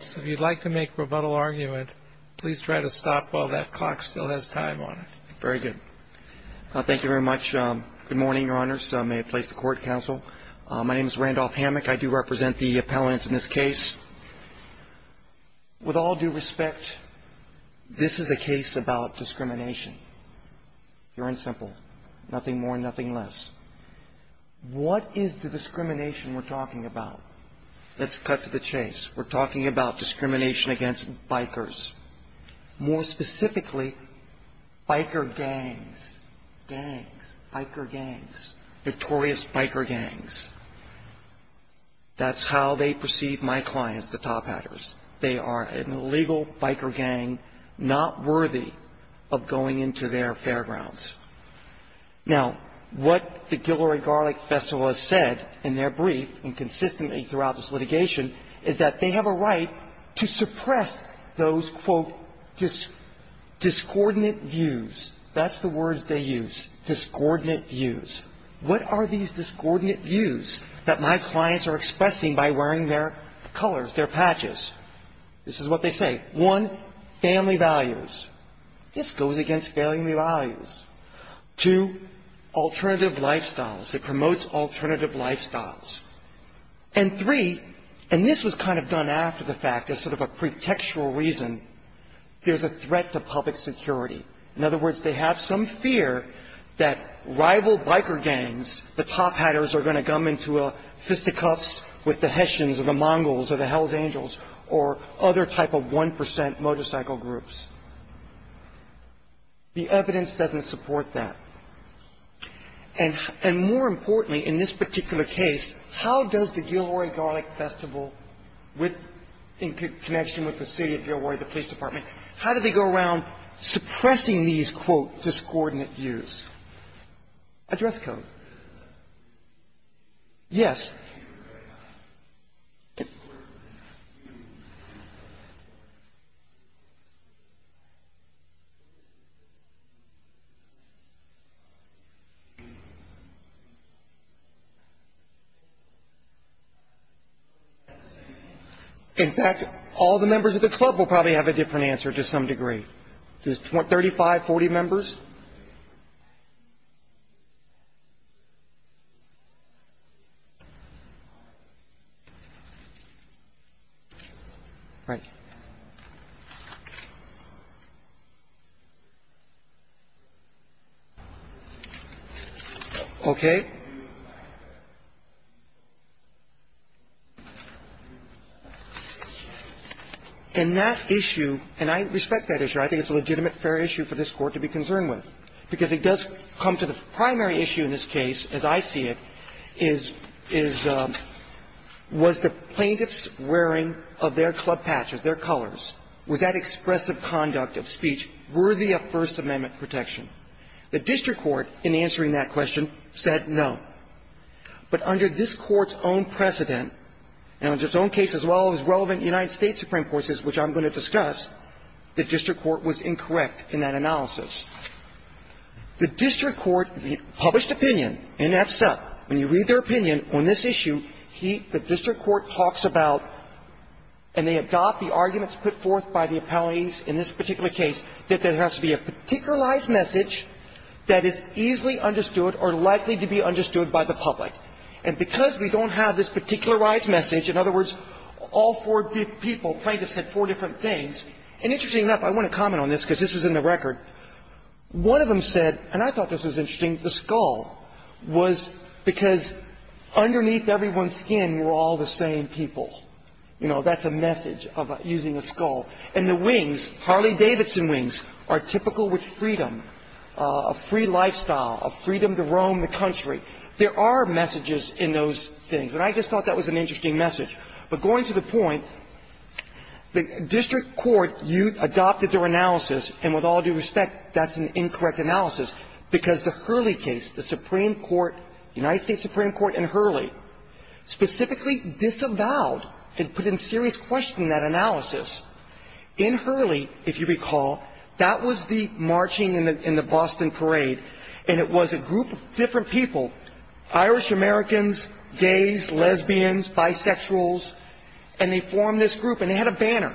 So if you'd like to make a rebuttal argument, please try to stop while that clock still has time on it. Very good. Thank you very much. Good morning, Your Honors. May it please the Court, Counsel. My name is Randolph Hammock. I do represent the appellants in this case. With all due respect, this is a case about discrimination. Very simple. Nothing more, nothing less. What is the discrimination we're talking about? Let's cut to the chase. We're talking about discrimination against bikers. More specifically, biker gangs, gangs, biker gangs, notorious biker gangs. That's how they perceive my clients, the top hatters. They are an illegal biker gang not worthy of going into their fairgrounds. Now, what the Gilroy Garlic Festival has said in their brief and consistently throughout this litigation is that they have a right to suppress those, quote, discoordinate views. That's the words they use, discoordinate views. What are these discoordinate views that my clients are expressing by wearing their colors, their patches? This is what they say. One, family values. This goes against family values. Two, alternative lifestyles. It promotes alternative lifestyles. And three, and this was kind of done after the fact as sort of a pretextual reason, there's a threat to public security. In other words, they have some fear that rival biker gangs, the top hatters, are going to come into a fisticuffs with the Hessians or the Mongols or the Hells Angels or other type of 1 percent motorcycle groups. The evidence doesn't support that. And more importantly, in this particular case, how does the Gilroy Garlic Festival with the connection with the city of Gilroy, the police department, how do they go around suppressing these, quote, discoordinate views? Address code. Yes. In fact, all the members of the club will probably have a different answer to some degree. Thirty five, 40 members. OK. In that issue, and I respect that issue, I think it's a legitimate, fair issue for this Court to be concerned with, because it does come to the primary issue in this case, as I see it, is was the plaintiff's wearing of their club patches, their colors, was that expressive conduct of speech worthy of First Amendment protection? The district court, in answering that question, said no. But under this Court's own precedent, and under its own case as well as relevant United States Supreme Court's, which I'm going to discuss, the district court was incorrect in that analysis. The district court published opinion in FSUP. When you read their opinion on this issue, the district court talks about, and they have got the arguments put forth by the appellees in this particular case, that there is a message that is easily understood or likely to be understood by the public. And because we don't have this particularized message, in other words, all four people, plaintiffs said four different things. And interestingly enough, I want to comment on this, because this was in the record. One of them said, and I thought this was interesting, the skull was because underneath everyone's skin were all the same people. You know, that's a message of using a skull. And the wings, Harley-Davidson wings, are typical with freedom, a free lifestyle, a freedom to roam the country. There are messages in those things. And I just thought that was an interesting message. But going to the point, the district court adopted their analysis, and with all due respect, that's an incorrect analysis, because the Hurley case, the Supreme Court, United States Supreme Court and Hurley, specifically disavowed and put in serious question that analysis. In Hurley, if you recall, that was the marching in the Boston parade, and it was a group of different people, Irish-Americans, gays, lesbians, bisexuals, and they formed this group, and they had a banner.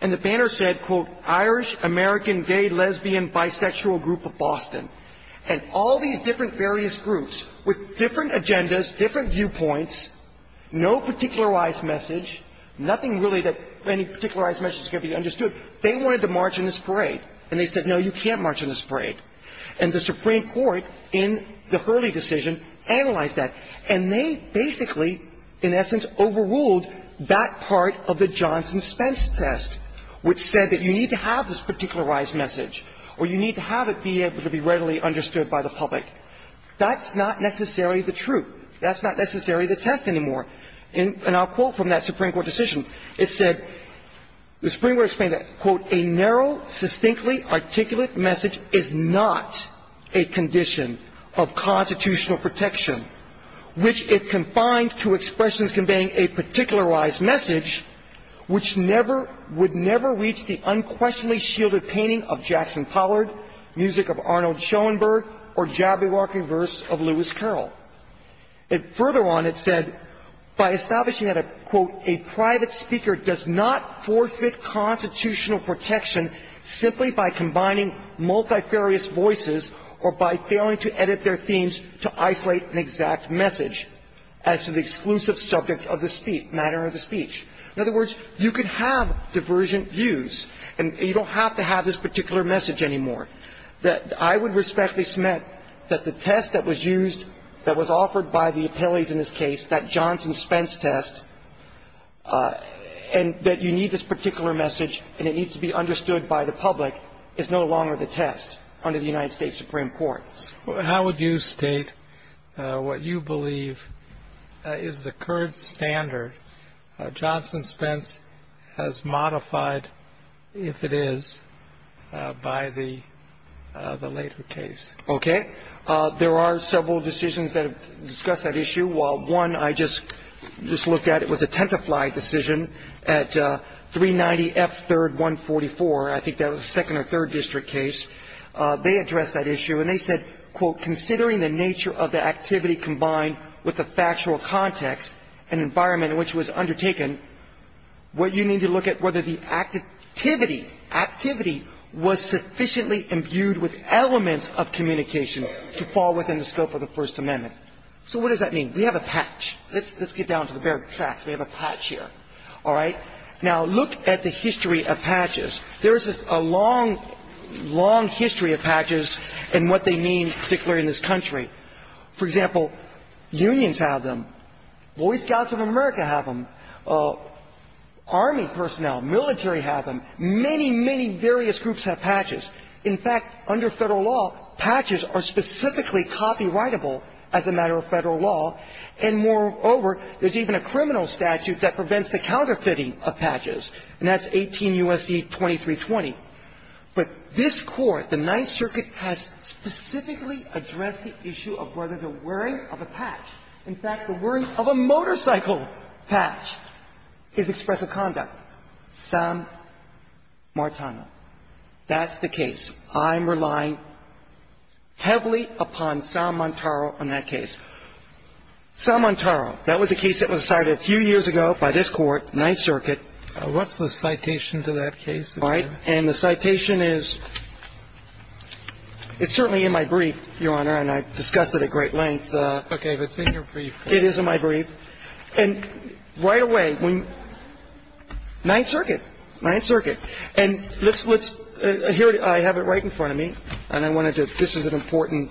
And the banner said, quote, Irish-American, gay, lesbian, bisexual group of Boston. And all these different various groups with different agendas, different viewpoints, no particularized message, nothing really that any particularized message is going to be understood. They wanted to march in this parade. And they said, no, you can't march in this parade. And the Supreme Court, in the Hurley decision, analyzed that. And they basically, in essence, overruled that part of the Johnson-Spence test, which said that you need to have this particularized message, or you need to have it be able to be readily understood by the public. That's not necessarily the truth. That's not necessarily the test anymore. And I'll quote from that Supreme Court decision. It said, the Supreme Court explained that, quote, a narrow, succinctly articulate message is not a condition of constitutional protection, which, if confined to expressions conveying a particularized message, which never – would never reach the unquestionably shielded painting of Jackson Pollard, music of Arnold Schoenberg, or jabberwocky verse of Lewis Carroll. And further on, it said, by establishing that, quote, a private speaker does not forfeit constitutional protection simply by combining multifarious voices or by failing to edit their themes to isolate an exact message as to the exclusive subject of the speech, matter of the speech. In other words, you can have divergent views, and you don't have to have this particular message anymore. I would respectfully submit that the test that was used, that was offered by the appellees in this case, that Johnson-Spence test, and that you need this particular message and it needs to be understood by the public, is no longer the test under the United States Supreme Court. How would you state what you believe is the current standard? Johnson-Spence has modified, if it is, by the later case. Okay. There are several decisions that have discussed that issue. One I just looked at. It was a Tentafly decision at 390 F. 3rd, 144. I think that was the second or third district case. They addressed that issue, and they said, quote, considering the nature of the activity combined with the factual context, and environment in which it was undertaken, what you need to look at, whether the activity was sufficiently imbued with elements of communication to fall within the scope of the First Amendment. So what does that mean? We have a patch. Let's get down to the bare facts. We have a patch here. All right? Now, look at the history of patches. There is a long, long history of patches and what they mean particularly in this country. For example, unions have them. Boy Scouts of America have them. Army personnel, military have them. Many, many various groups have patches. In fact, under Federal law, patches are specifically copyrightable as a matter of Federal law, and moreover, there is even a criminal statute that prevents the counterfeiting of patches, and that's 18 U.S.C. 2320. But this Court, the Ninth Circuit, has specifically addressed the issue of whether the wearing of a patch, in fact, the wearing of a motorcycle patch, is expressive conduct. Sam Martano. That's the case. I'm relying heavily upon Sam Montaro on that case. Sam Montaro, that was a case that was decided a few years ago by this Court, Ninth Circuit. What's the citation to that case? All right. And the citation is – it's certainly in my brief, Your Honor, and I've discussed it at great length. Okay. But it's in your brief. It is in my brief. And right away, when – Ninth Circuit. Ninth Circuit. And let's – here, I have it right in front of me, and I wanted to – this is an important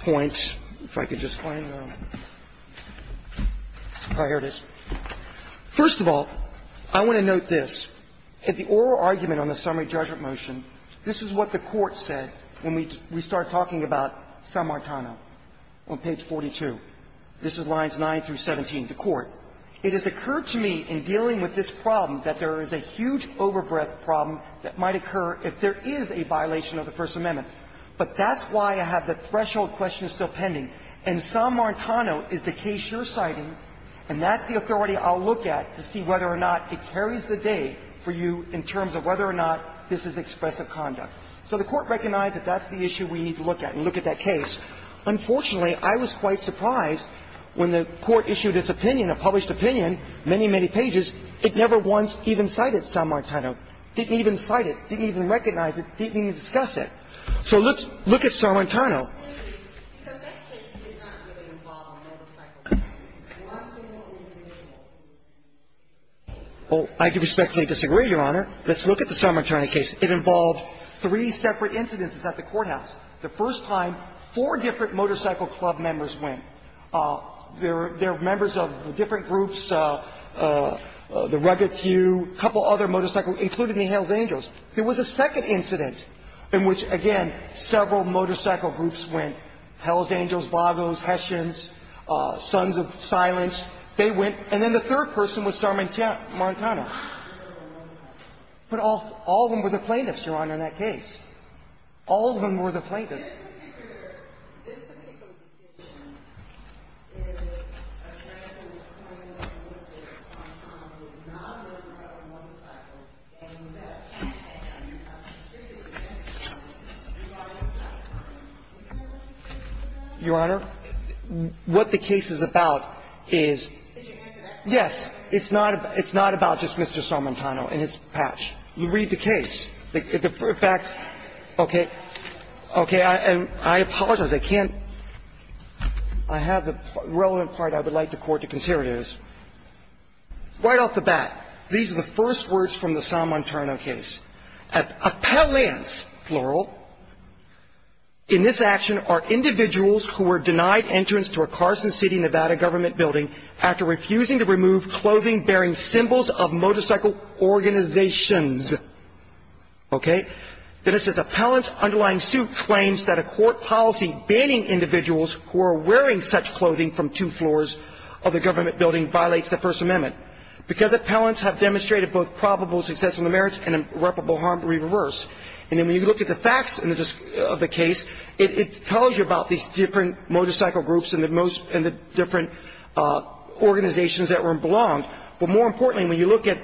point, if I could just find – oh, here it is. First of all, I want to note this. In the oral argument on the summary judgment motion, this is what the Court said when we – we started talking about Sam Martano on page 42. This is lines 9 through 17. The Court. It has occurred to me in dealing with this problem that there is a huge overbreath problem that might occur if there is a violation of the First Amendment. But that's why I have the threshold question still pending. And Sam Martano is the case you're citing, and that's the authority I'll look at to see whether or not it carries the day for you in terms of whether or not this is expressive conduct. So the Court recognized that that's the issue we need to look at and look at that case. Unfortunately, I was quite surprised when the Court issued its opinion, a published opinion, many, many pages, it never once even cited Sam Martano. Didn't even cite it. Didn't even recognize it. Didn't even discuss it. So let's look at Sam Martano. Well, I respectfully disagree, Your Honor. Let's look at the Sam Martano case. It involved three separate incidents at the courthouse. The first time, four different motorcycle club members went. There were members of different groups, the Rugged Few, a couple other motorcycles, including the Hells Angels. There was a second incident in which, again, several motorcycle groups went, Hells Angels, Vagos, Hessians, Sons of Silence. They went. And then the third person was Sam Martano. But all of them were the plaintiffs, Your Honor, in that case. All of them were the plaintiffs. Your Honor, what the case is about is yes. It's not about just Mr. Sam Martano and his patch. You read the case. Okay. Okay. I apologize. I can't. I have the relevant part I would like the Court to consider. It is. Right off the bat, these are the first words from the Sam Martano case. Appellants, plural, in this action are individuals who were denied entrance to a Carson City, Nevada government building after refusing to remove clothing bearing symbols of motorcycle organizations. Okay. Then it says, Appellants' underlying suit claims that a court policy banning individuals who are wearing such clothing from two floors of the government building violates the First Amendment. Because appellants have demonstrated both probable success in the merits and irreparable harm to reverse. And then when you look at the facts of the case, it tells you about these different motorcycle groups and the different organizations that were belonged. But more importantly, when you look at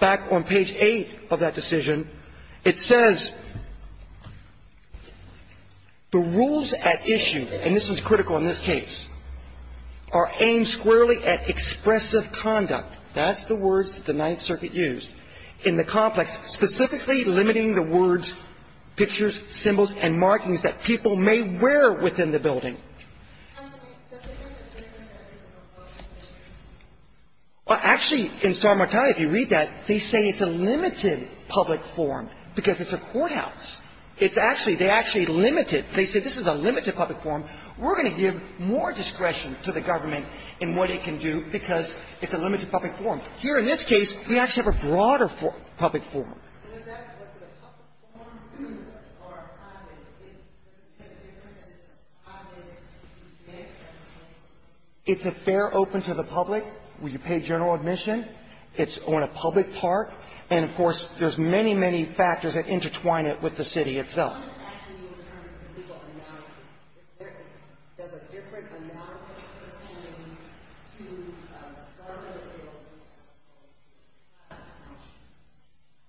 back on page 8 of that decision, it says the rules at issue, and this is critical in this case, are aimed squarely at expressive conduct. That's the words that the Ninth Circuit used in the complex, specifically limiting the words, pictures, symbols, and markings that people may wear within the building. Actually, in Sam Martano, if you read that, they say it's a limited public forum because it's a courthouse. It's actually, they actually limit it. They say this is a limited public forum. We're going to give more discretion to the government in what it can do because it's a limited public forum. Here in this case, we actually have a broader public forum. It's a fair open to the public where you pay general admission. It's on a public park. And, of course, there's many, many factors that intertwine it with the city itself.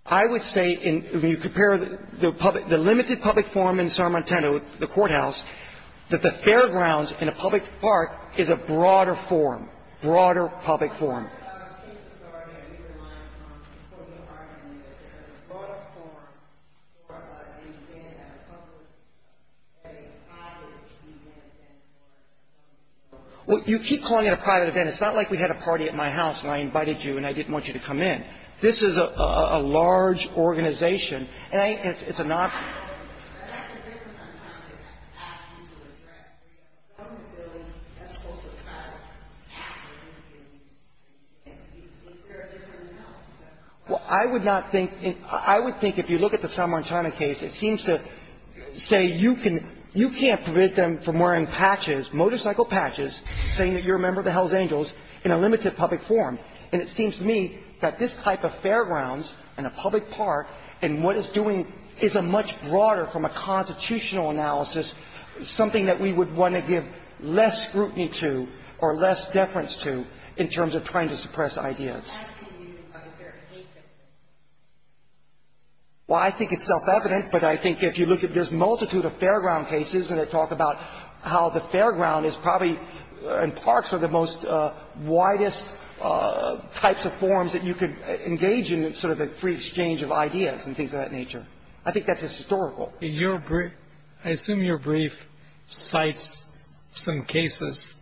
I would say when you compare the public, the limited public forum in Sam Martano, the courthouse, that the fairgrounds in a public park is a broader forum, broader public forum. Well, you keep calling it a private event. It's not like we had a party at my house and I invited you and I didn't want you to come in. This is a large organization. And I think it's a non- Well, I would not think, I would think if you look at the Sam Martano case, it seems to say you can't prevent them from wearing patches, motorcycle patches, saying that you're a member of the Hells Angels in a limited public forum. And it seems to me that this type of fairgrounds in a public park and what it's doing is a much broader from a constitutional analysis, something that we would want to give less scrutiny to or less deference to in terms of trying to suppress ideas. Well, I think it's self-evident, but I think if you look at this multitude of fairground cases and it talks about how the fairground is probably, and parks are the most widest types of forums that you could engage in sort of a free exchange of ideas and things of that nature, I think that's historical. I assume your brief cites some cases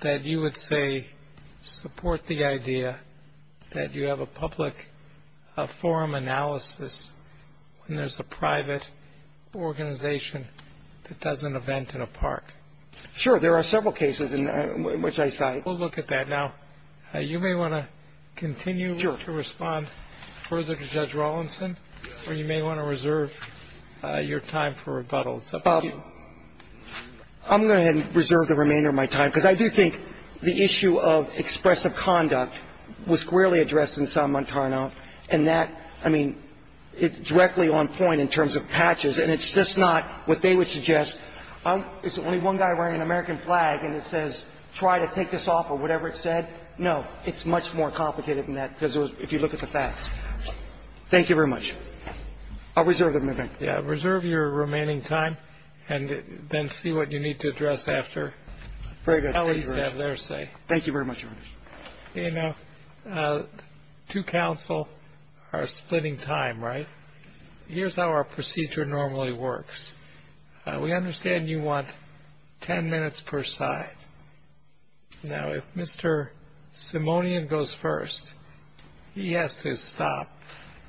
that you would say support the idea that you have a public forum analysis when there's a private organization that does an event in a park. Sure. There are several cases in which I cite. We'll look at that. Now, you may want to continue to respond further to Judge Rawlinson, or you may want to reserve your time for rebuttal. It's up to you. I'm going to go ahead and reserve the remainder of my time because I do think the issue of expressive conduct was squarely addressed in San Moncarno, and that, I mean, it's directly on point in terms of patches. And it's just not what they would suggest. It's only one guy wearing an American flag and it says try to take this off or whatever it said. No. It's much more complicated than that because if you look at the facts. Thank you very much. I'll reserve the remainder. Yeah. Reserve your remaining time and then see what you need to address after. Very good. I'll reserve their say. Thank you very much, Your Honor. You know, two counsel are splitting time, right? Here's how our procedure normally works. We understand you want 10 minutes per side. Now, if Mr. Simonian goes first, he has to stop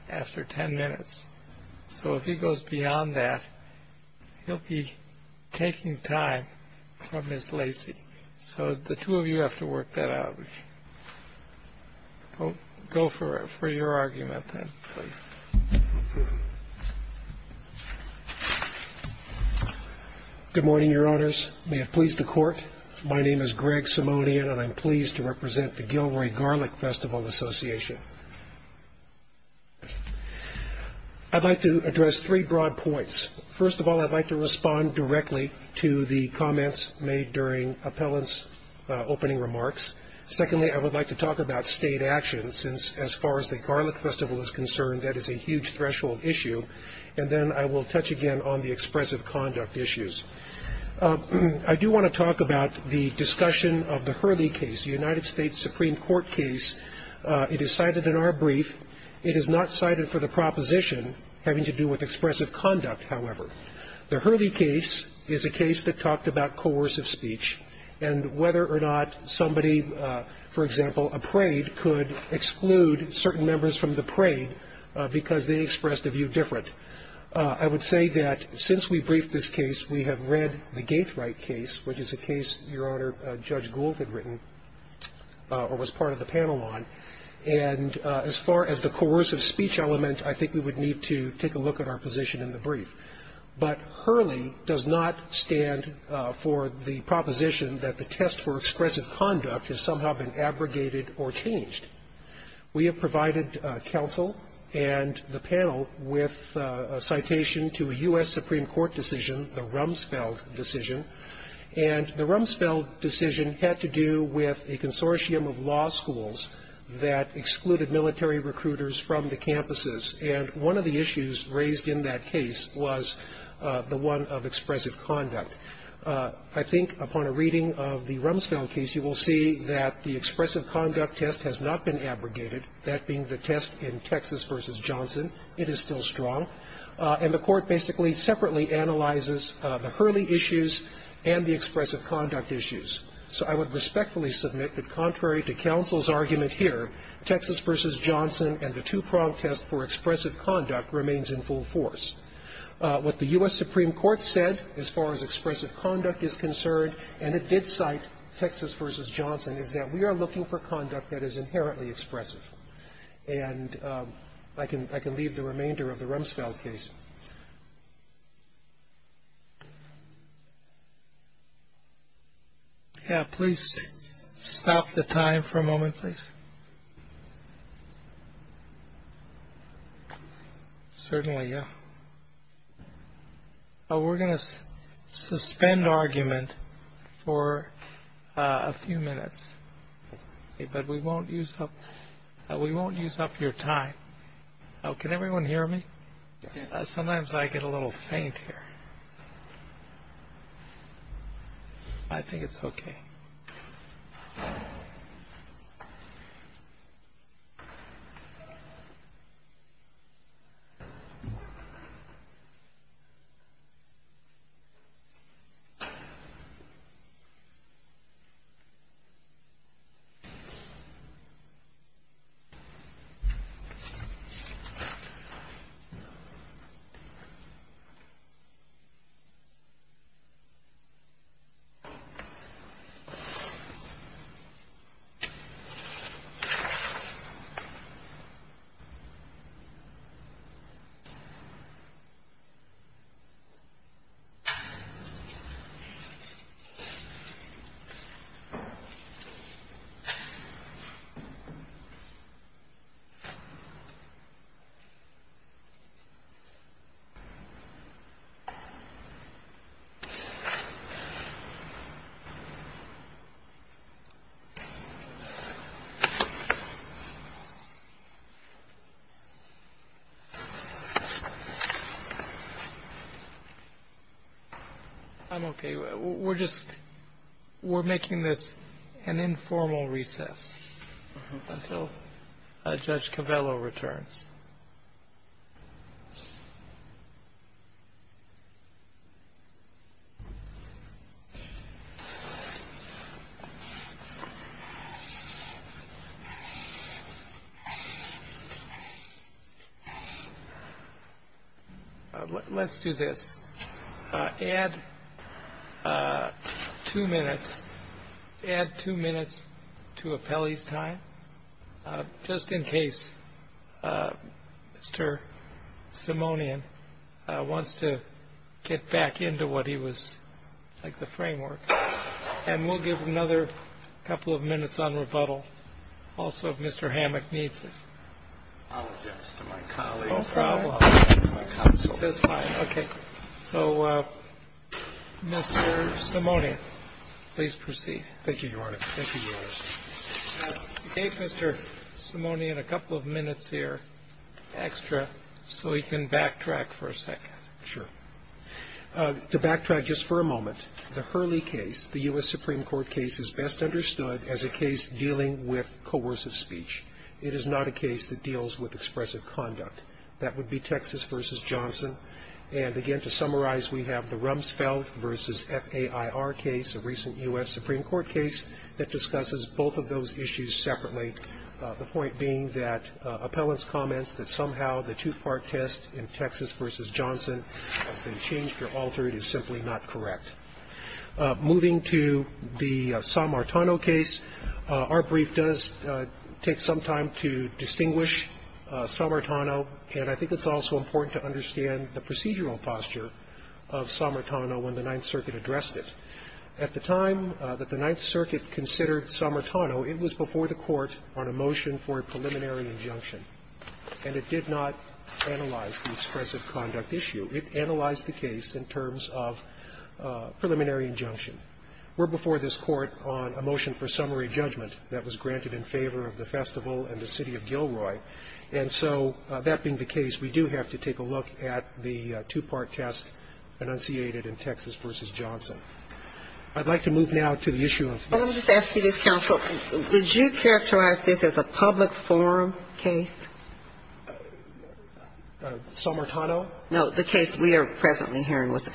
after 10 minutes. So if he goes beyond that, he'll be taking time from Ms. Lacey. So the two of you have to work that out. Go for your argument then, please. Good morning, Your Honors. May it please the Court, my name is Greg Simonian, and I'm pleased to represent the Gilroy Garlic Festival Association. I'd like to address three broad points. First of all, I'd like to respond directly to the comments made during appellant's opening remarks. Secondly, I would like to talk about state action since, as far as the Garlic Festival is concerned, that is a huge threshold issue. And then I will touch again on the expressive conduct issues. I do want to talk about the discussion of the Hurley case, the United States Supreme Court case. It is cited in our brief. It is not cited for the proposition having to do with expressive conduct, however. The Hurley case is a case that talked about coercive speech and whether or not somebody, for example, a parade could exclude certain members from the parade because they expressed a view different. I would say that since we briefed this case, we have read the Gaithright case, which is a case Your Honor, Judge Gould had written or was part of the panel on. And as far as the coercive speech element, I think we would need to take a look at our position in the brief. But Hurley does not stand for the proposition that the test for expressive conduct has somehow been abrogated or changed. We have provided counsel and the panel with a citation to a U.S. Supreme Court decision, the Rumsfeld decision. And the Rumsfeld decision had to do with a consortium of law schools that excluded military recruiters from the campuses. And one of the issues raised in that case was the one of expressive conduct. I think upon a reading of the Rumsfeld case, you will see that the expressive conduct test has not been abrogated, that being the test in Texas v. Johnson. It is still strong. And the Court basically separately analyzes the Hurley issues and the expressive conduct issues. So I would respectfully submit that contrary to counsel's argument here, Texas v. Johnson and the two-prong test for expressive conduct remains in full force. What the U.S. Supreme Court said as far as expressive conduct is concerned, and it did cite Texas v. Johnson, is that we are looking for conduct that is inherently expressive. And I can leave the remainder of the Rumsfeld case. Sotomayor, please stop the time for a moment, please. Certainly, yes. We're going to suspend argument for a few minutes, but we won't use up your time. Can everyone hear me? Sometimes I get a little faint here. I think it's okay. Thank you. I'm okay. We're just we're making this an informal recess until Judge Covello returns. Let's do this. Add two minutes. Add two minutes to Appelli's time. Just in case, Mr. Simonian wants to get back into what he was, like, the framework. And we'll give another couple of minutes on rebuttal also if Mr. Hammack needs it. I'll object to my colleagues. No problem. I'll object to my counsel. That's fine. Okay. So, Mr. Simonian, please proceed. Thank you, Your Honor. Thank you, Your Honor. I gave Mr. Simonian a couple of minutes here extra so he can backtrack for a second. Sure. To backtrack just for a moment, the Hurley case, the U.S. Supreme Court case, is best understood as a case dealing with coercive speech. It is not a case that deals with expressive conduct. That would be Texas v. Johnson. And, again, to summarize, we have the Rumsfeld v. F.A.I.R. case, a recent U.S. Supreme Court case that discusses both of those issues separately, the point being that appellants' comments that somehow the two-part test in Texas v. Johnson has been changed or altered is simply not correct. Moving to the Sammartano case, our brief does take some time to distinguish Sammartano, and I think it's also important to understand the procedural posture of Sammartano when the Ninth Circuit addressed it. At the time that the Ninth Circuit considered Sammartano, it was before the Court on a motion for a preliminary injunction, and it did not analyze the expressive conduct issue. It analyzed the case in terms of preliminary injunction. We're before this Court on a motion for summary judgment that was granted in favor of the festival and the city of Gilroy. And so that being the case, we do have to take a look at the two-part test enunciated in Texas v. Johnson. I'd like to move now to the issue of this. I want to just ask you this, counsel. Would you characterize this as a public forum case? Sammartano? No, the case we are presently hearing. Was the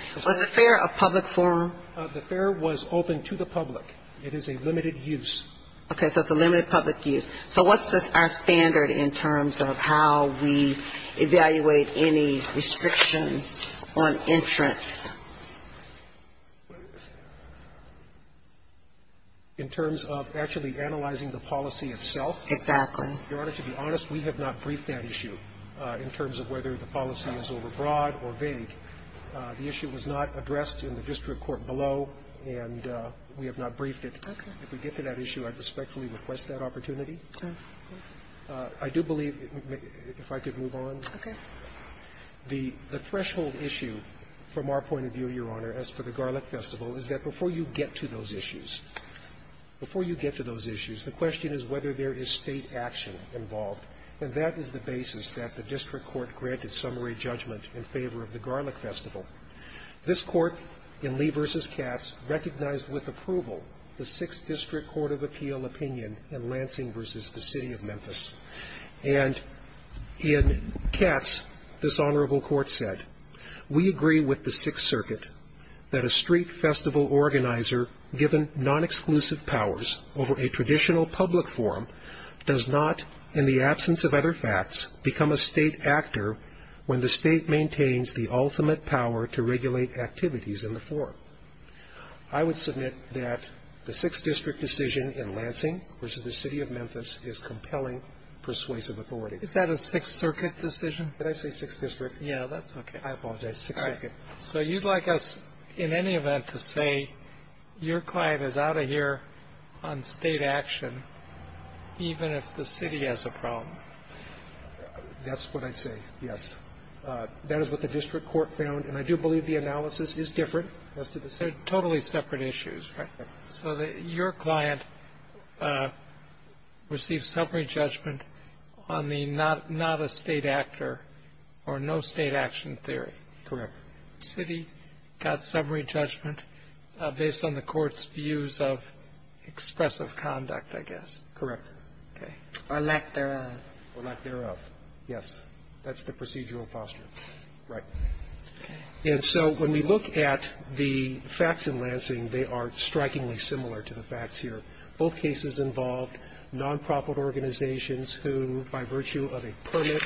fair a public forum? The fair was open to the public. It is a limited use. Okay. So it's a limited public use. So what's our standard in terms of how we evaluate any restrictions on entrance to the public space? In terms of actually analyzing the policy itself? Exactly. Your Honor, to be honest, we have not briefed that issue in terms of whether the policy is overbroad or vague. The issue was not addressed in the district court below, and we have not briefed it. Okay. If we get to that issue, I'd respectfully request that opportunity. Okay. I do believe, if I could move on. Okay. The threshold issue, from our point of view, Your Honor, as for the Garlic Festival, is that before you get to those issues, before you get to those issues, the question is whether there is State action involved. And that is the basis that the district court granted summary judgment in favor of the Garlic Festival. This Court in Lee v. Katz recognized with approval the Sixth District Court of Appeal opinion in Lansing v. the City of Memphis. And in Katz, this Honorable Court said, We agree with the Sixth Circuit that a street festival organizer given non-exclusive powers over a traditional public forum does not, in the absence of other facts, become a State actor when the State maintains the ultimate power to regulate activities in the forum. I would submit that the Sixth District decision in Lansing v. the City of Memphis is compelling persuasive authority. Is that a Sixth Circuit decision? Did I say Sixth District? Yeah, that's okay. I apologize. Sixth Circuit. All right. So you'd like us, in any event, to say your client is out of here on State action, even if the City has a problem? That's what I'd say, yes. That is what the district court found, and I do believe the analysis is different as to the State. They're totally separate issues, right? So your client received summary judgment on the not a State actor or no State action theory. Correct. The City got summary judgment based on the court's views of expressive conduct, I guess. Correct. Okay. Or lack thereof. Or lack thereof, yes. That's the procedural posture, right. Okay. And so when we look at the facts in Lansing, they are strikingly similar to the facts here. Both cases involved nonprofit organizations who, by virtue of a permit,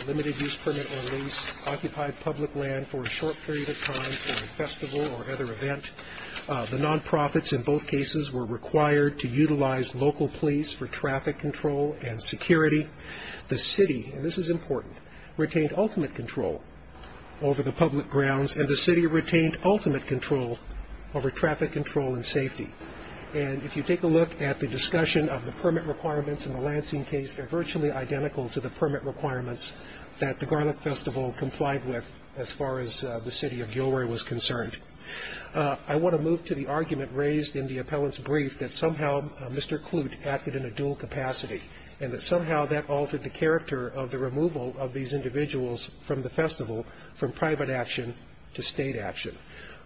a limited use permit or lease, occupied public land for a short period of time for a festival or other event. The nonprofits in both cases were required to utilize local police for traffic control and security. The City, and this is important, retained ultimate control over the public grounds, and the City retained ultimate control over traffic control and safety. And if you take a look at the discussion of the permit requirements in the Lansing case, they're virtually identical to the permit requirements that the Garlick Festival complied with as far as the City of Gilroy was concerned. I want to move to the argument raised in the appellant's brief that somehow Mr. Clute acted in a dual capacity and that somehow that altered the character of the removal of these individuals from the festival from private action to state action.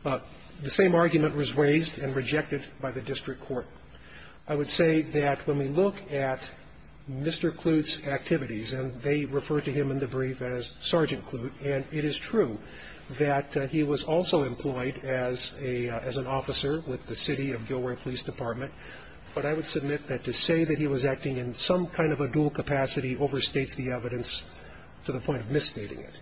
The same argument was raised and rejected by the district court. I would say that when we look at Mr. Clute's activities, and they refer to him in the brief as Sergeant Clute, and it is true that he was also employed as an officer with the City of Gilroy Police Department, but I would submit that to say that he was acting in some kind of a dual capacity overstates the evidence to the point of misstating it.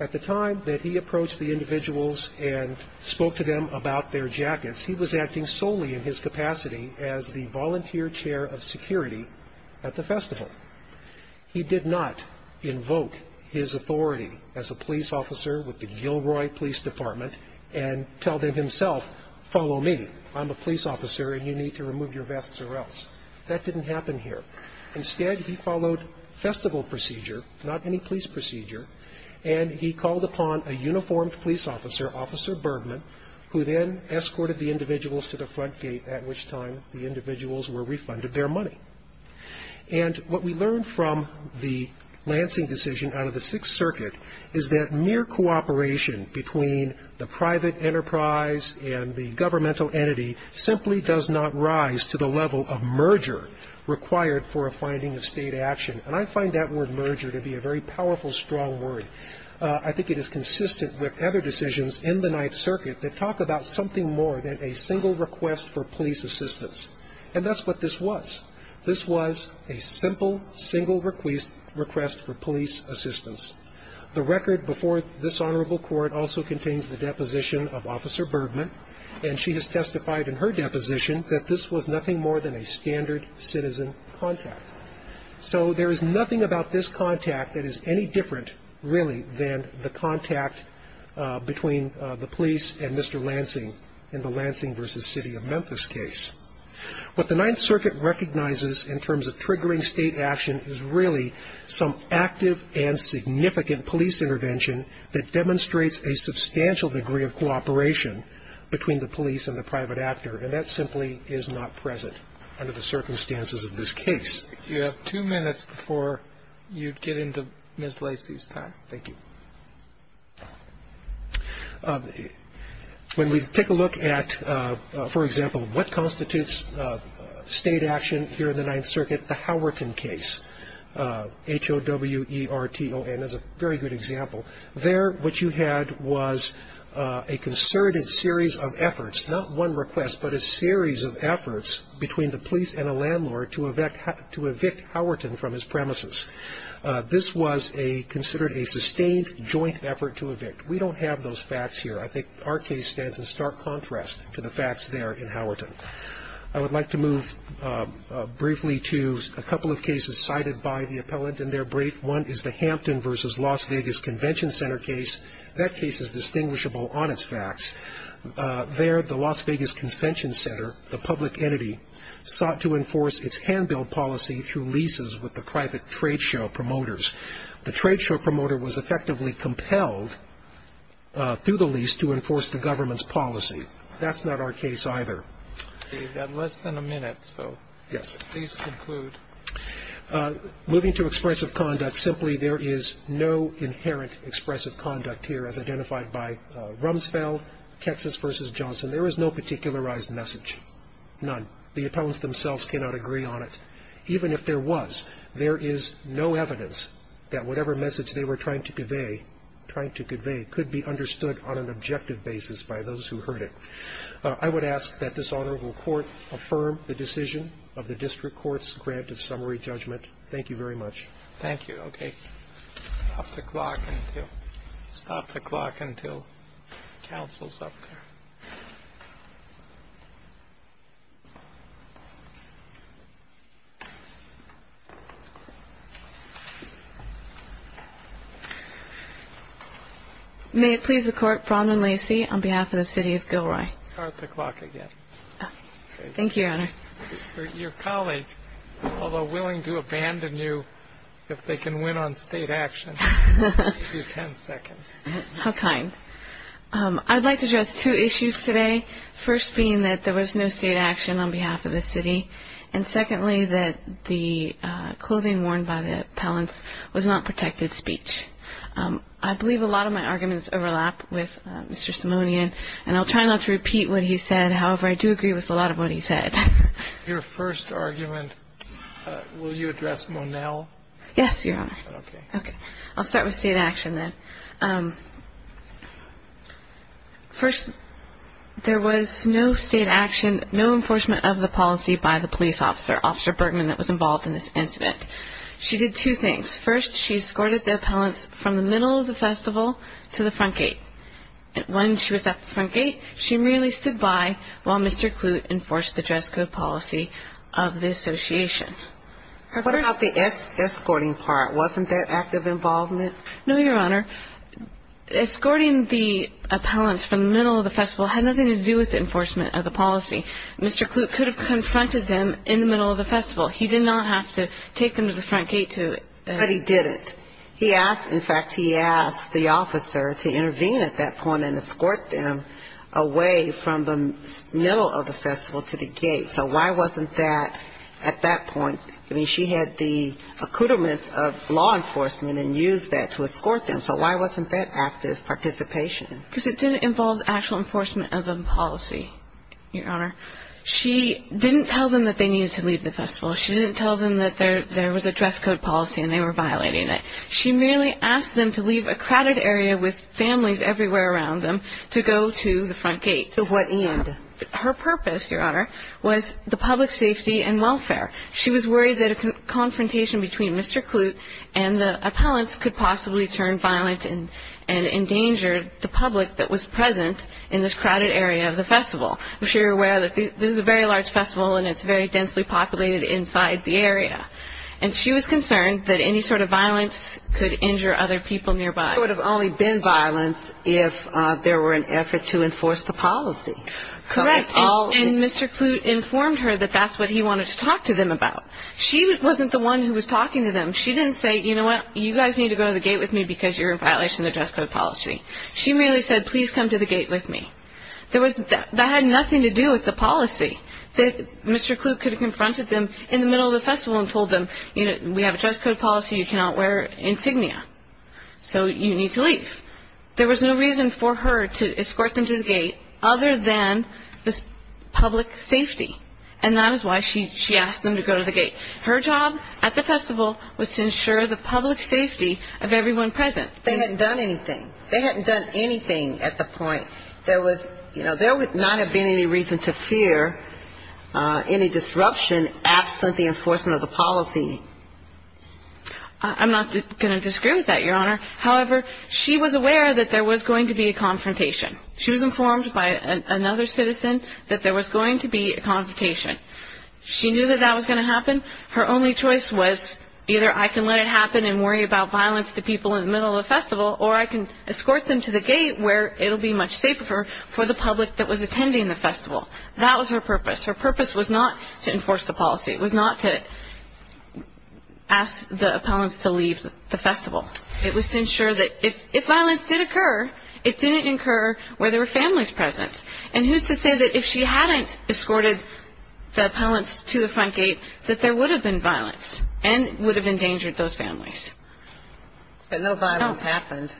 At the time that he approached the individuals and spoke to them about their jackets, he was acting solely in his capacity as the volunteer chair of security at the festival. He did not invoke his authority as a police officer with the Gilroy Police Department and tell them himself, follow me. I'm a police officer and you need to remove your vests or else. That didn't happen here. Instead, he followed festival procedure, not any police procedure, and he called upon a uniformed police officer, Officer Bergman, who then escorted the individuals to the front gate at which time the individuals were refunded their money. And what we learn from the Lansing decision out of the Sixth Circuit is that mere cooperation between the private enterprise and the governmental entity simply does not rise to the level of merger required for a finding of state action. And I find that word merger to be a very powerful, strong word. I think it is consistent with other decisions in the Ninth Circuit that talk about something more than a single request for police assistance, and that's what this was. This was a simple, single request for police assistance. The record before this Honorable Court also contains the deposition of Officer Bergman, and she has testified in her deposition that this was nothing more than a standard citizen contact. So there is nothing about this contact that is any different, really, than the contact between the police and Mr. Lansing in the Lansing v. City of Memphis case. What the Ninth Circuit recognizes in terms of triggering state action is really some active and significant police intervention that demonstrates a substantial degree of cooperation between the police and the private actor, and that simply is not present under the circumstances of this case. You have two minutes before you get into Ms. Lacey's time. Thank you. When we take a look at, for example, what constitutes state action here in the Ninth Circuit, there, what you had was a concerted series of efforts, not one request, but a series of efforts between the police and a landlord to evict Howerton from his premises. This was considered a sustained joint effort to evict. We don't have those facts here. I think our case stands in stark contrast to the facts there in Howerton. I would like to move briefly to a couple of cases cited by the appellant in their brief. One is the Hampton v. Las Vegas Convention Center case. That case is distinguishable on its facts. There, the Las Vegas Convention Center, the public entity, sought to enforce its hand-built policy through leases with the private trade show promoters. The trade show promoter was effectively compelled through the lease to enforce the government's policy. That's not our case either. You've got less than a minute, so please conclude. Moving to expressive conduct, simply there is no inherent expressive conduct here as identified by Rumsfeld, Texas v. Johnson. There is no particularized message, none. The appellants themselves cannot agree on it. Even if there was, there is no evidence that whatever message they were trying to convey, trying to convey, could be understood on an objective basis by those who heard it. I would ask that this honorable court affirm the decision of the district court's grant of summary judgment. Thank you very much. Thank you. Okay. Stop the clock until counsel is up there. May it please the court, Bronwyn Lacy on behalf of the city of Gilroy. Start the clock again. Thank you, Your Honor. Your colleague, although willing to abandon you if they can win on state action, will give you 10 seconds. How kind. I'd like to address two issues today, first being that there was no state action on behalf of the city, and secondly, that the clothing worn by the appellants was not protected speech. I believe a lot of my arguments overlap with Mr. Simonian, and I'll try not to repeat what he said. However, I do agree with a lot of what he said. Your first argument, will you address Monell? Yes, Your Honor. Okay. Okay. I'll start with state action then. First, there was no state action, no enforcement of the policy by the police officer, Officer Bergman, that was involved in this incident. She did two things. First, she escorted the appellants from the middle of the festival to the front gate. When she was at the front gate, she merely stood by while Mr. Kloot enforced the dress code policy of the association. What about the escorting part? Wasn't that active involvement? No, Your Honor. Escorting the appellants from the middle of the festival had nothing to do with enforcement of the policy. Mr. Kloot could have confronted them in the middle of the festival. He did not have to take them to the front gate to ---- But he didn't. He asked, in fact, he asked the officer to intervene at that point and escort them away from the middle of the festival to the gate. So why wasn't that at that point? I mean, she had the accoutrements of law enforcement and used that to escort them. So why wasn't that active participation? Because it didn't involve actual enforcement of the policy, Your Honor. She didn't tell them that they needed to leave the festival. She didn't tell them that there was a dress code policy and they were violating it. She merely asked them to leave a crowded area with families everywhere around them to go to the front gate. To what end? Her purpose, Your Honor, was the public safety and welfare. She was worried that a confrontation between Mr. Kloot and the appellants could possibly turn violent and endanger the public that was present in this crowded area of the festival. I'm sure you're aware that this is a very large festival and it's very densely populated inside the area. And she was concerned that any sort of violence could injure other people nearby. It would have only been violence if there were an effort to enforce the policy. Correct. And Mr. Kloot informed her that that's what he wanted to talk to them about. She wasn't the one who was talking to them. She didn't say, you know what, you guys need to go to the gate with me because you're in violation of the dress code policy. She merely said, please come to the gate with me. That had nothing to do with the policy. Mr. Kloot could have confronted them in the middle of the festival and told them, we have a dress code policy, you cannot wear insignia. So you need to leave. There was no reason for her to escort them to the gate other than the public safety. And that is why she asked them to go to the gate. Her job at the festival was to ensure the public safety of everyone present. They hadn't done anything. They hadn't done anything at the point. There was, you know, there would not have been any reason to fear any disruption absent the enforcement of the policy. I'm not going to disagree with that, Your Honor. However, she was aware that there was going to be a confrontation. She was informed by another citizen that there was going to be a confrontation. She knew that that was going to happen. Her only choice was either I can let it happen and worry about violence to people in the middle of the festival, or I can escort them to the gate where it will be much safer for the public that was attending the festival. That was her purpose. Her purpose was not to enforce the policy. It was not to ask the appellants to leave the festival. It was to ensure that if violence did occur, it didn't incur where there were families present. And who's to say that if she hadn't escorted the appellants to the front gate that there would have been violence and would have endangered those families? But no violence happened.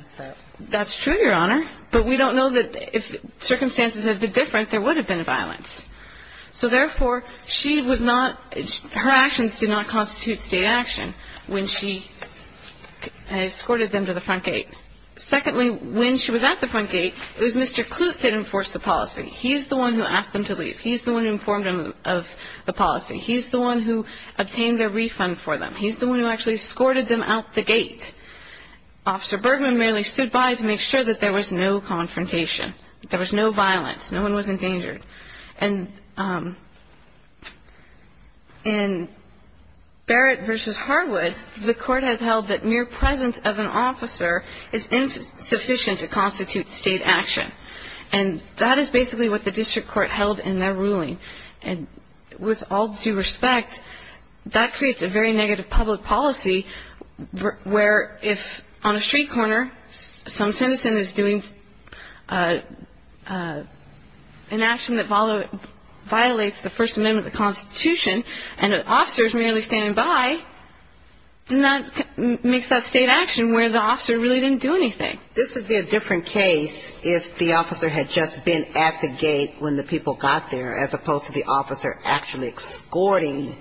That's true, Your Honor. But we don't know that if circumstances had been different, there would have been violence. So, therefore, she was not – her actions did not constitute state action when she escorted them to the front gate. Secondly, when she was at the front gate, it was Mr. Kloot that enforced the policy. He's the one who asked them to leave. He's the one who informed them of the policy. He's the one who obtained their refund for them. He's the one who actually escorted them out the gate. Officer Bergman merely stood by to make sure that there was no confrontation, that there was no violence, no one was endangered. And in Barrett v. Hardwood, the court has held that mere presence of an officer is insufficient to constitute state action. And that is basically what the district court held in their ruling. And with all due respect, that creates a very negative public policy where if on a street corner some citizen is doing an action that violates the First Amendment of the Constitution and an officer is merely standing by, then that makes that state action where the officer really didn't do anything. This would be a different case if the officer had just been at the gate when the people got there as opposed to the officer actually escorting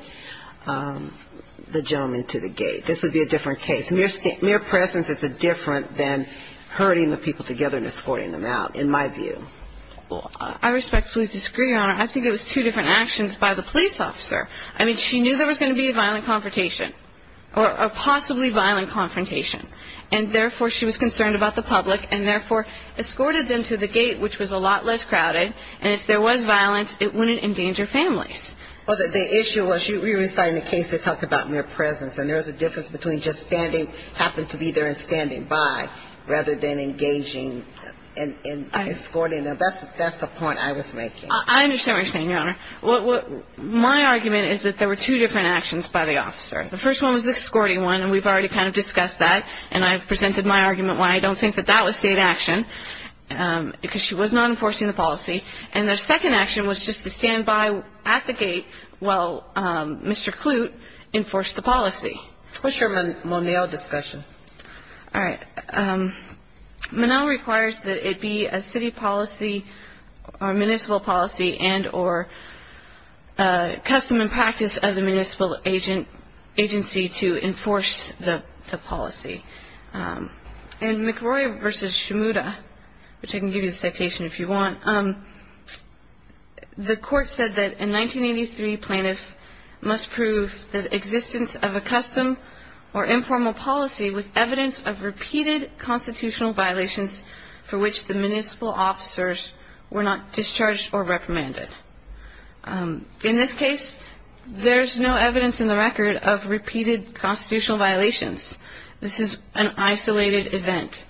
the gentleman to the gate. This would be a different case. Mere presence is different than herding the people together and escorting them out, in my view. I respectfully disagree, Your Honor. I think it was two different actions by the police officer. I mean, she knew there was going to be a violent confrontation or a possibly violent confrontation, and therefore she was concerned about the public and therefore escorted them to the gate, which was a lot less crowded. And if there was violence, it wouldn't endanger families. Well, the issue was you were reciting the case to talk about mere presence, and there was a difference between just standing, happened to be there and standing by rather than engaging and escorting them. That's the point I was making. I understand what you're saying, Your Honor. My argument is that there were two different actions by the officer. The first one was the escorting one, and we've already kind of discussed that, and I've presented my argument why I don't think that that was state action, because she was not enforcing the policy. And the second action was just to stand by at the gate while Mr. Kloot enforced the policy. What's your Monell discussion? All right. Monell requires that it be a city policy or municipal policy and or custom and practice of the municipal agency to enforce the policy. In McRoy v. Shimuda, which I can give you the citation if you want, the court said that in 1983, plaintiffs must prove the existence of a custom or informal policy with evidence of repeated constitutional violations for which the municipal officers were not discharged or reprimanded. In this case, there's no evidence in the record of repeated constitutional violations. This is an isolated event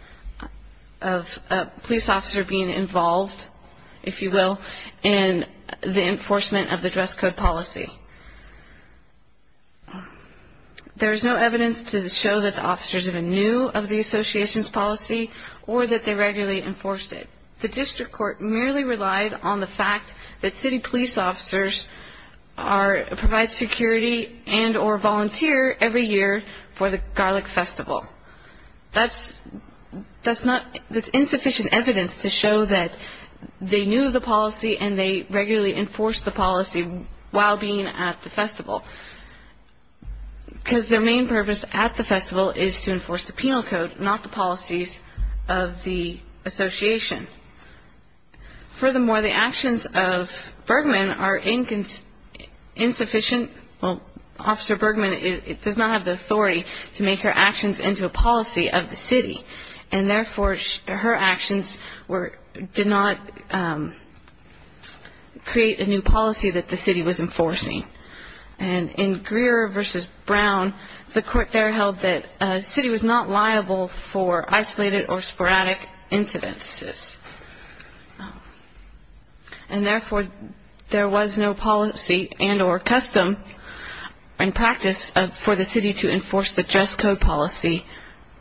of a police officer being involved, if you will, in the enforcement of the dress code policy. There's no evidence to show that the officers even knew of the association's policy or that they regularly enforced it. The district court merely relied on the fact that city police officers provide security and or volunteer every year for the Garlic Festival. That's insufficient evidence to show that they knew the policy and they regularly enforced the policy while being at the festival because their main purpose at the festival is to enforce the penal code, not the policies of the association. Furthermore, the actions of Bergman are insufficient. Officer Bergman does not have the authority to make her actions into a policy of the city, and therefore her actions did not create a new policy that the city was enforcing. The court there held that the city was not liable for isolated or sporadic incidences, and therefore there was no policy and or custom and practice for the city to enforce the dress code policy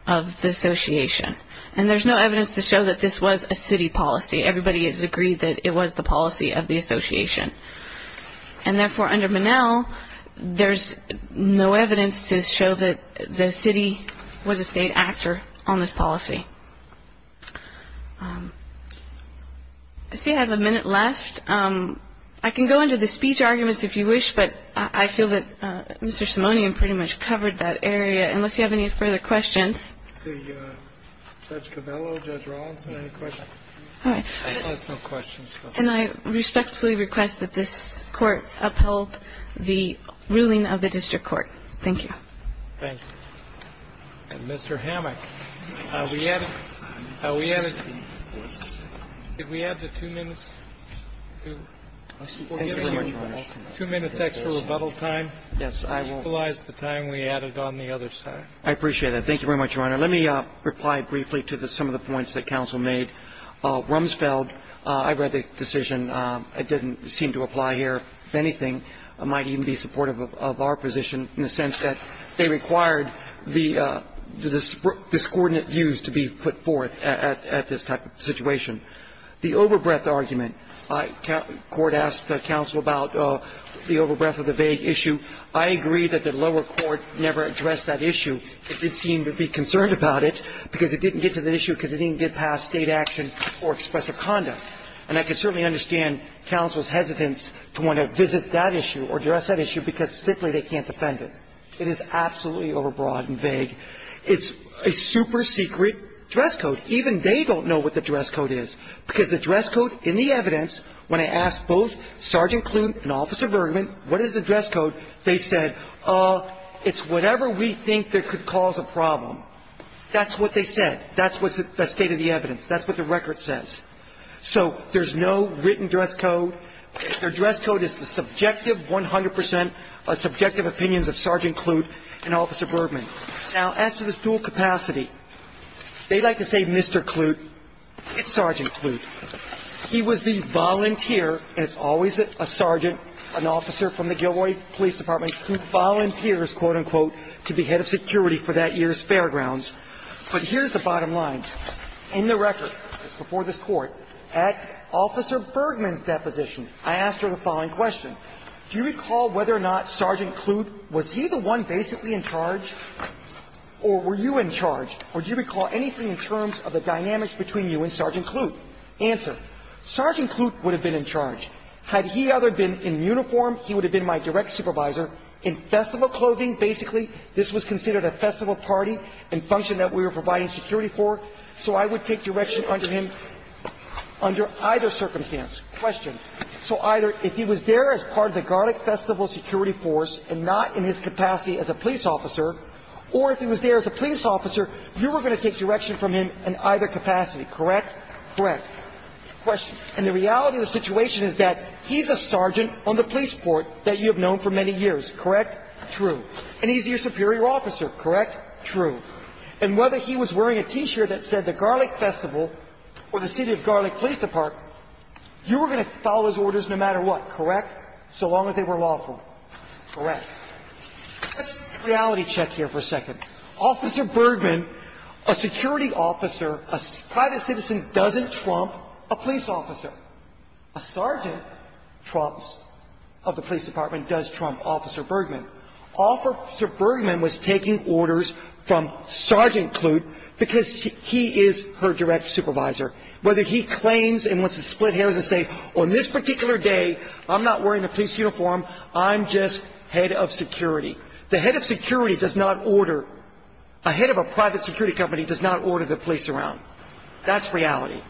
of the association. And there's no evidence to show that this was a city policy. Everybody has agreed that it was the policy of the association. And therefore under Minnell, there's no evidence to show that the city was a state actor on this policy. I see I have a minute left. I can go into the speech arguments if you wish, but I feel that Mr. Simonian pretty much covered that area, unless you have any further questions. Judge Cabello, Judge Rawlinson, any questions? I have no questions. And I respectfully request that this Court uphold the ruling of the district court. Thank you. Thank you. And, Mr. Hammack, we added the two minutes. Two minutes extra rebuttal time. Yes, I will. Equalize the time we added on the other side. I appreciate it. Thank you very much, Your Honor. Let me reply briefly to some of the points that counsel made. Rumsfeld, I read the decision. It doesn't seem to apply here. If anything, it might even be supportive of our position in the sense that they required the discoordinate views to be put forth at this type of situation. The overbreadth argument. Court asked counsel about the overbreadth of the vague issue. I agree that the lower court never addressed that issue. It did seem to be concerned about it because it didn't get to the issue because it didn't get past State action or expressive conduct. And I can certainly understand counsel's hesitance to want to visit that issue or address that issue because simply they can't defend it. It is absolutely overbroad and vague. It's a super-secret dress code. Even they don't know what the dress code is, because the dress code in the evidence when I asked both Sergeant Klune and Officer Bergman what is the dress code, they said, oh, it's whatever we think that could cause a problem. That's what they said. That's the state of the evidence. That's what the record says. So there's no written dress code. Their dress code is the subjective, 100 percent subjective opinions of Sergeant Klune and Officer Bergman. Now, as to this dual capacity, they like to say Mr. Klune, it's Sergeant Klune. He was the volunteer, and it's always a sergeant, an officer from the Gilroy Police Department who volunteers, quote, unquote, to be head of security for that year's bottom line. In the record, as before this Court, at Officer Bergman's deposition, I asked her the following question. Do you recall whether or not Sergeant Klune, was he the one basically in charge or were you in charge, or do you recall anything in terms of the dynamics between you and Sergeant Klune? Answer. Sergeant Klune would have been in charge. Had he either been in uniform, he would have been my direct supervisor. In festival clothing, basically, this was considered a festival party and function that we were providing security for, so I would take direction under him under either circumstance. Question. So either if he was there as part of the Garlick Festival security force and not in his capacity as a police officer, or if he was there as a police officer, you were going to take direction from him in either capacity, correct? Correct. Question. And the reality of the situation is that he's a sergeant on the police port that you have known for many years, correct? True. And he's your superior officer, correct? True. And whether he was wearing a T-shirt that said the Garlick Festival or the City of Garlick Police Department, you were going to follow his orders no matter what, correct, so long as they were lawful? Correct. Let's reality check here for a second. Officer Bergman, a security officer, a private citizen, doesn't trump a police officer. A sergeant trumps of the police department does trump Officer Bergman. Officer Bergman was taking orders from Sergeant Clute because he is her direct supervisor. Whether he claims and wants to split hairs and say on this particular day I'm not wearing a police uniform, I'm just head of security. The head of security does not order, a head of a private security company does not order the police around. That's reality.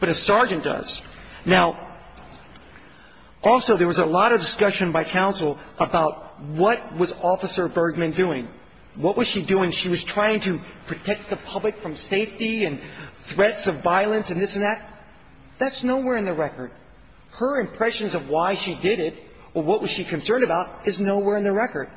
But a sergeant does. Now, also there was a lot of discussion by counsel about what was Officer Bergman doing. What was she doing? She was trying to protect the public from safety and threats of violence and this and that. That's nowhere in the record. Her impressions of why she did it or what was she concerned about is nowhere in the record.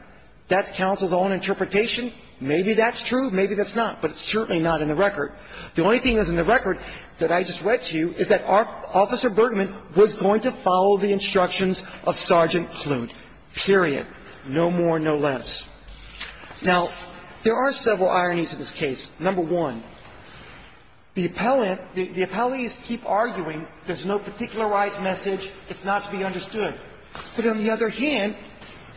That's counsel's own interpretation. Maybe that's true, maybe that's not, but it's certainly not in the record. The only thing that's in the record that I just read to you is that Officer Bergman was going to follow the instructions of Sergeant Clute, period. No more, no less. Now, there are several ironies in this case. Number one, the appellate, the appellees keep arguing there's no particularized message, it's not to be understood. But on the other hand,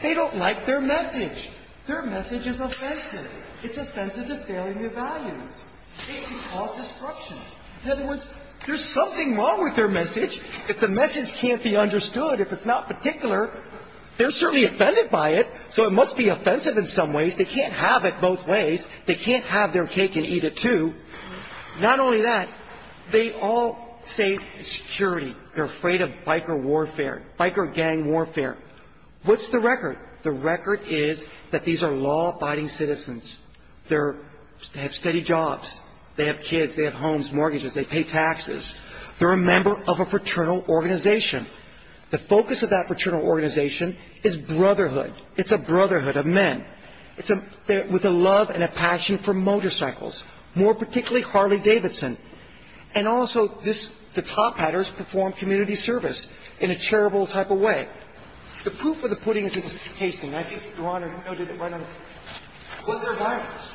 they don't like their message. Their message is offensive. It's offensive to failure of values. It can cause destruction. In other words, there's something wrong with their message. If the message can't be understood, if it's not particular, they're certainly offended by it, so it must be offensive in some ways. They can't have it both ways. They can't have their cake and eat it, too. Not only that, they all say security. They're afraid of biker warfare, biker gang warfare. What's the record? The record is that these are law-abiding citizens. They have steady jobs. They have kids. They have homes, mortgages. They pay taxes. They're a member of a fraternal organization. The focus of that fraternal organization is brotherhood. It's a brotherhood of men with a love and a passion for motorcycles, more particularly Harley Davidson. And also the top hatters perform community service in a charitable type of way. The proof of the pudding is in the tasting. I think, Your Honor, you noted it right on the table. Was there violence?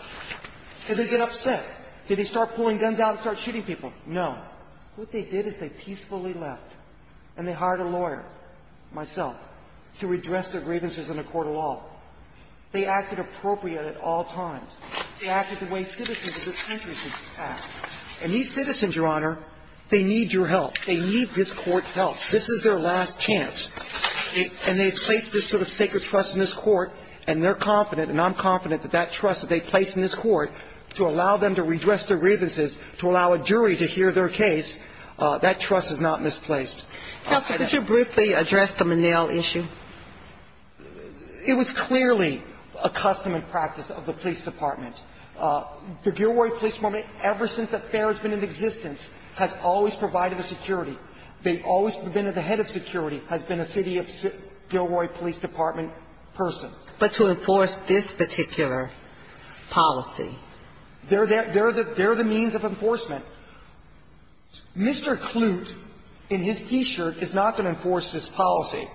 Did they get upset? Did they start pulling guns out and start shooting people? No. What they did is they peacefully left, and they hired a lawyer, myself, to address their grievances in a court of law. They acted appropriate at all times. They acted the way citizens of this country should act. And these citizens, Your Honor, they need your help. They need this Court's help. This is their last chance. And they placed this sort of sacred trust in this Court, and they're confident and I'm confident that that trust that they placed in this Court to allow them to redress their grievances, to allow a jury to hear their case, that trust is not misplaced. Counsel, could you briefly address the Monell issue? It was clearly a custom and practice of the police department. The Gilroy Police Department, ever since the fair has been in existence, has always provided the security. They always have been at the head of security, has been a city of Gilroy Police Department person. But to enforce this particular policy. They're the means of enforcement. Mr. Kloot, in his T-shirt, is not going to enforce this policy.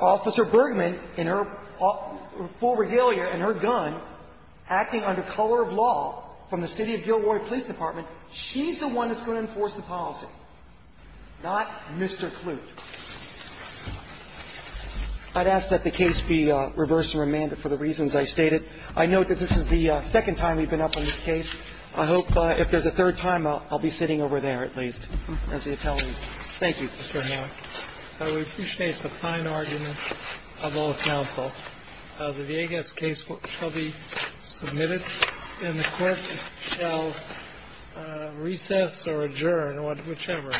Officer Bergman, in her full regalia, in her gun, acting under color of law from the city of Gilroy Police Department, she's the one that's going to enforce the policy, not Mr. Kloot. I'd ask that the case be reversed and remanded for the reasons I stated. I note that this is the second time we've been up on this case. I hope if there's a third time, I'll be sitting over there, at least, as the attorney. Thank you. I would appreciate the fine argument of all counsel. The case will be submitted, and the court shall recess or adjourn on whichever.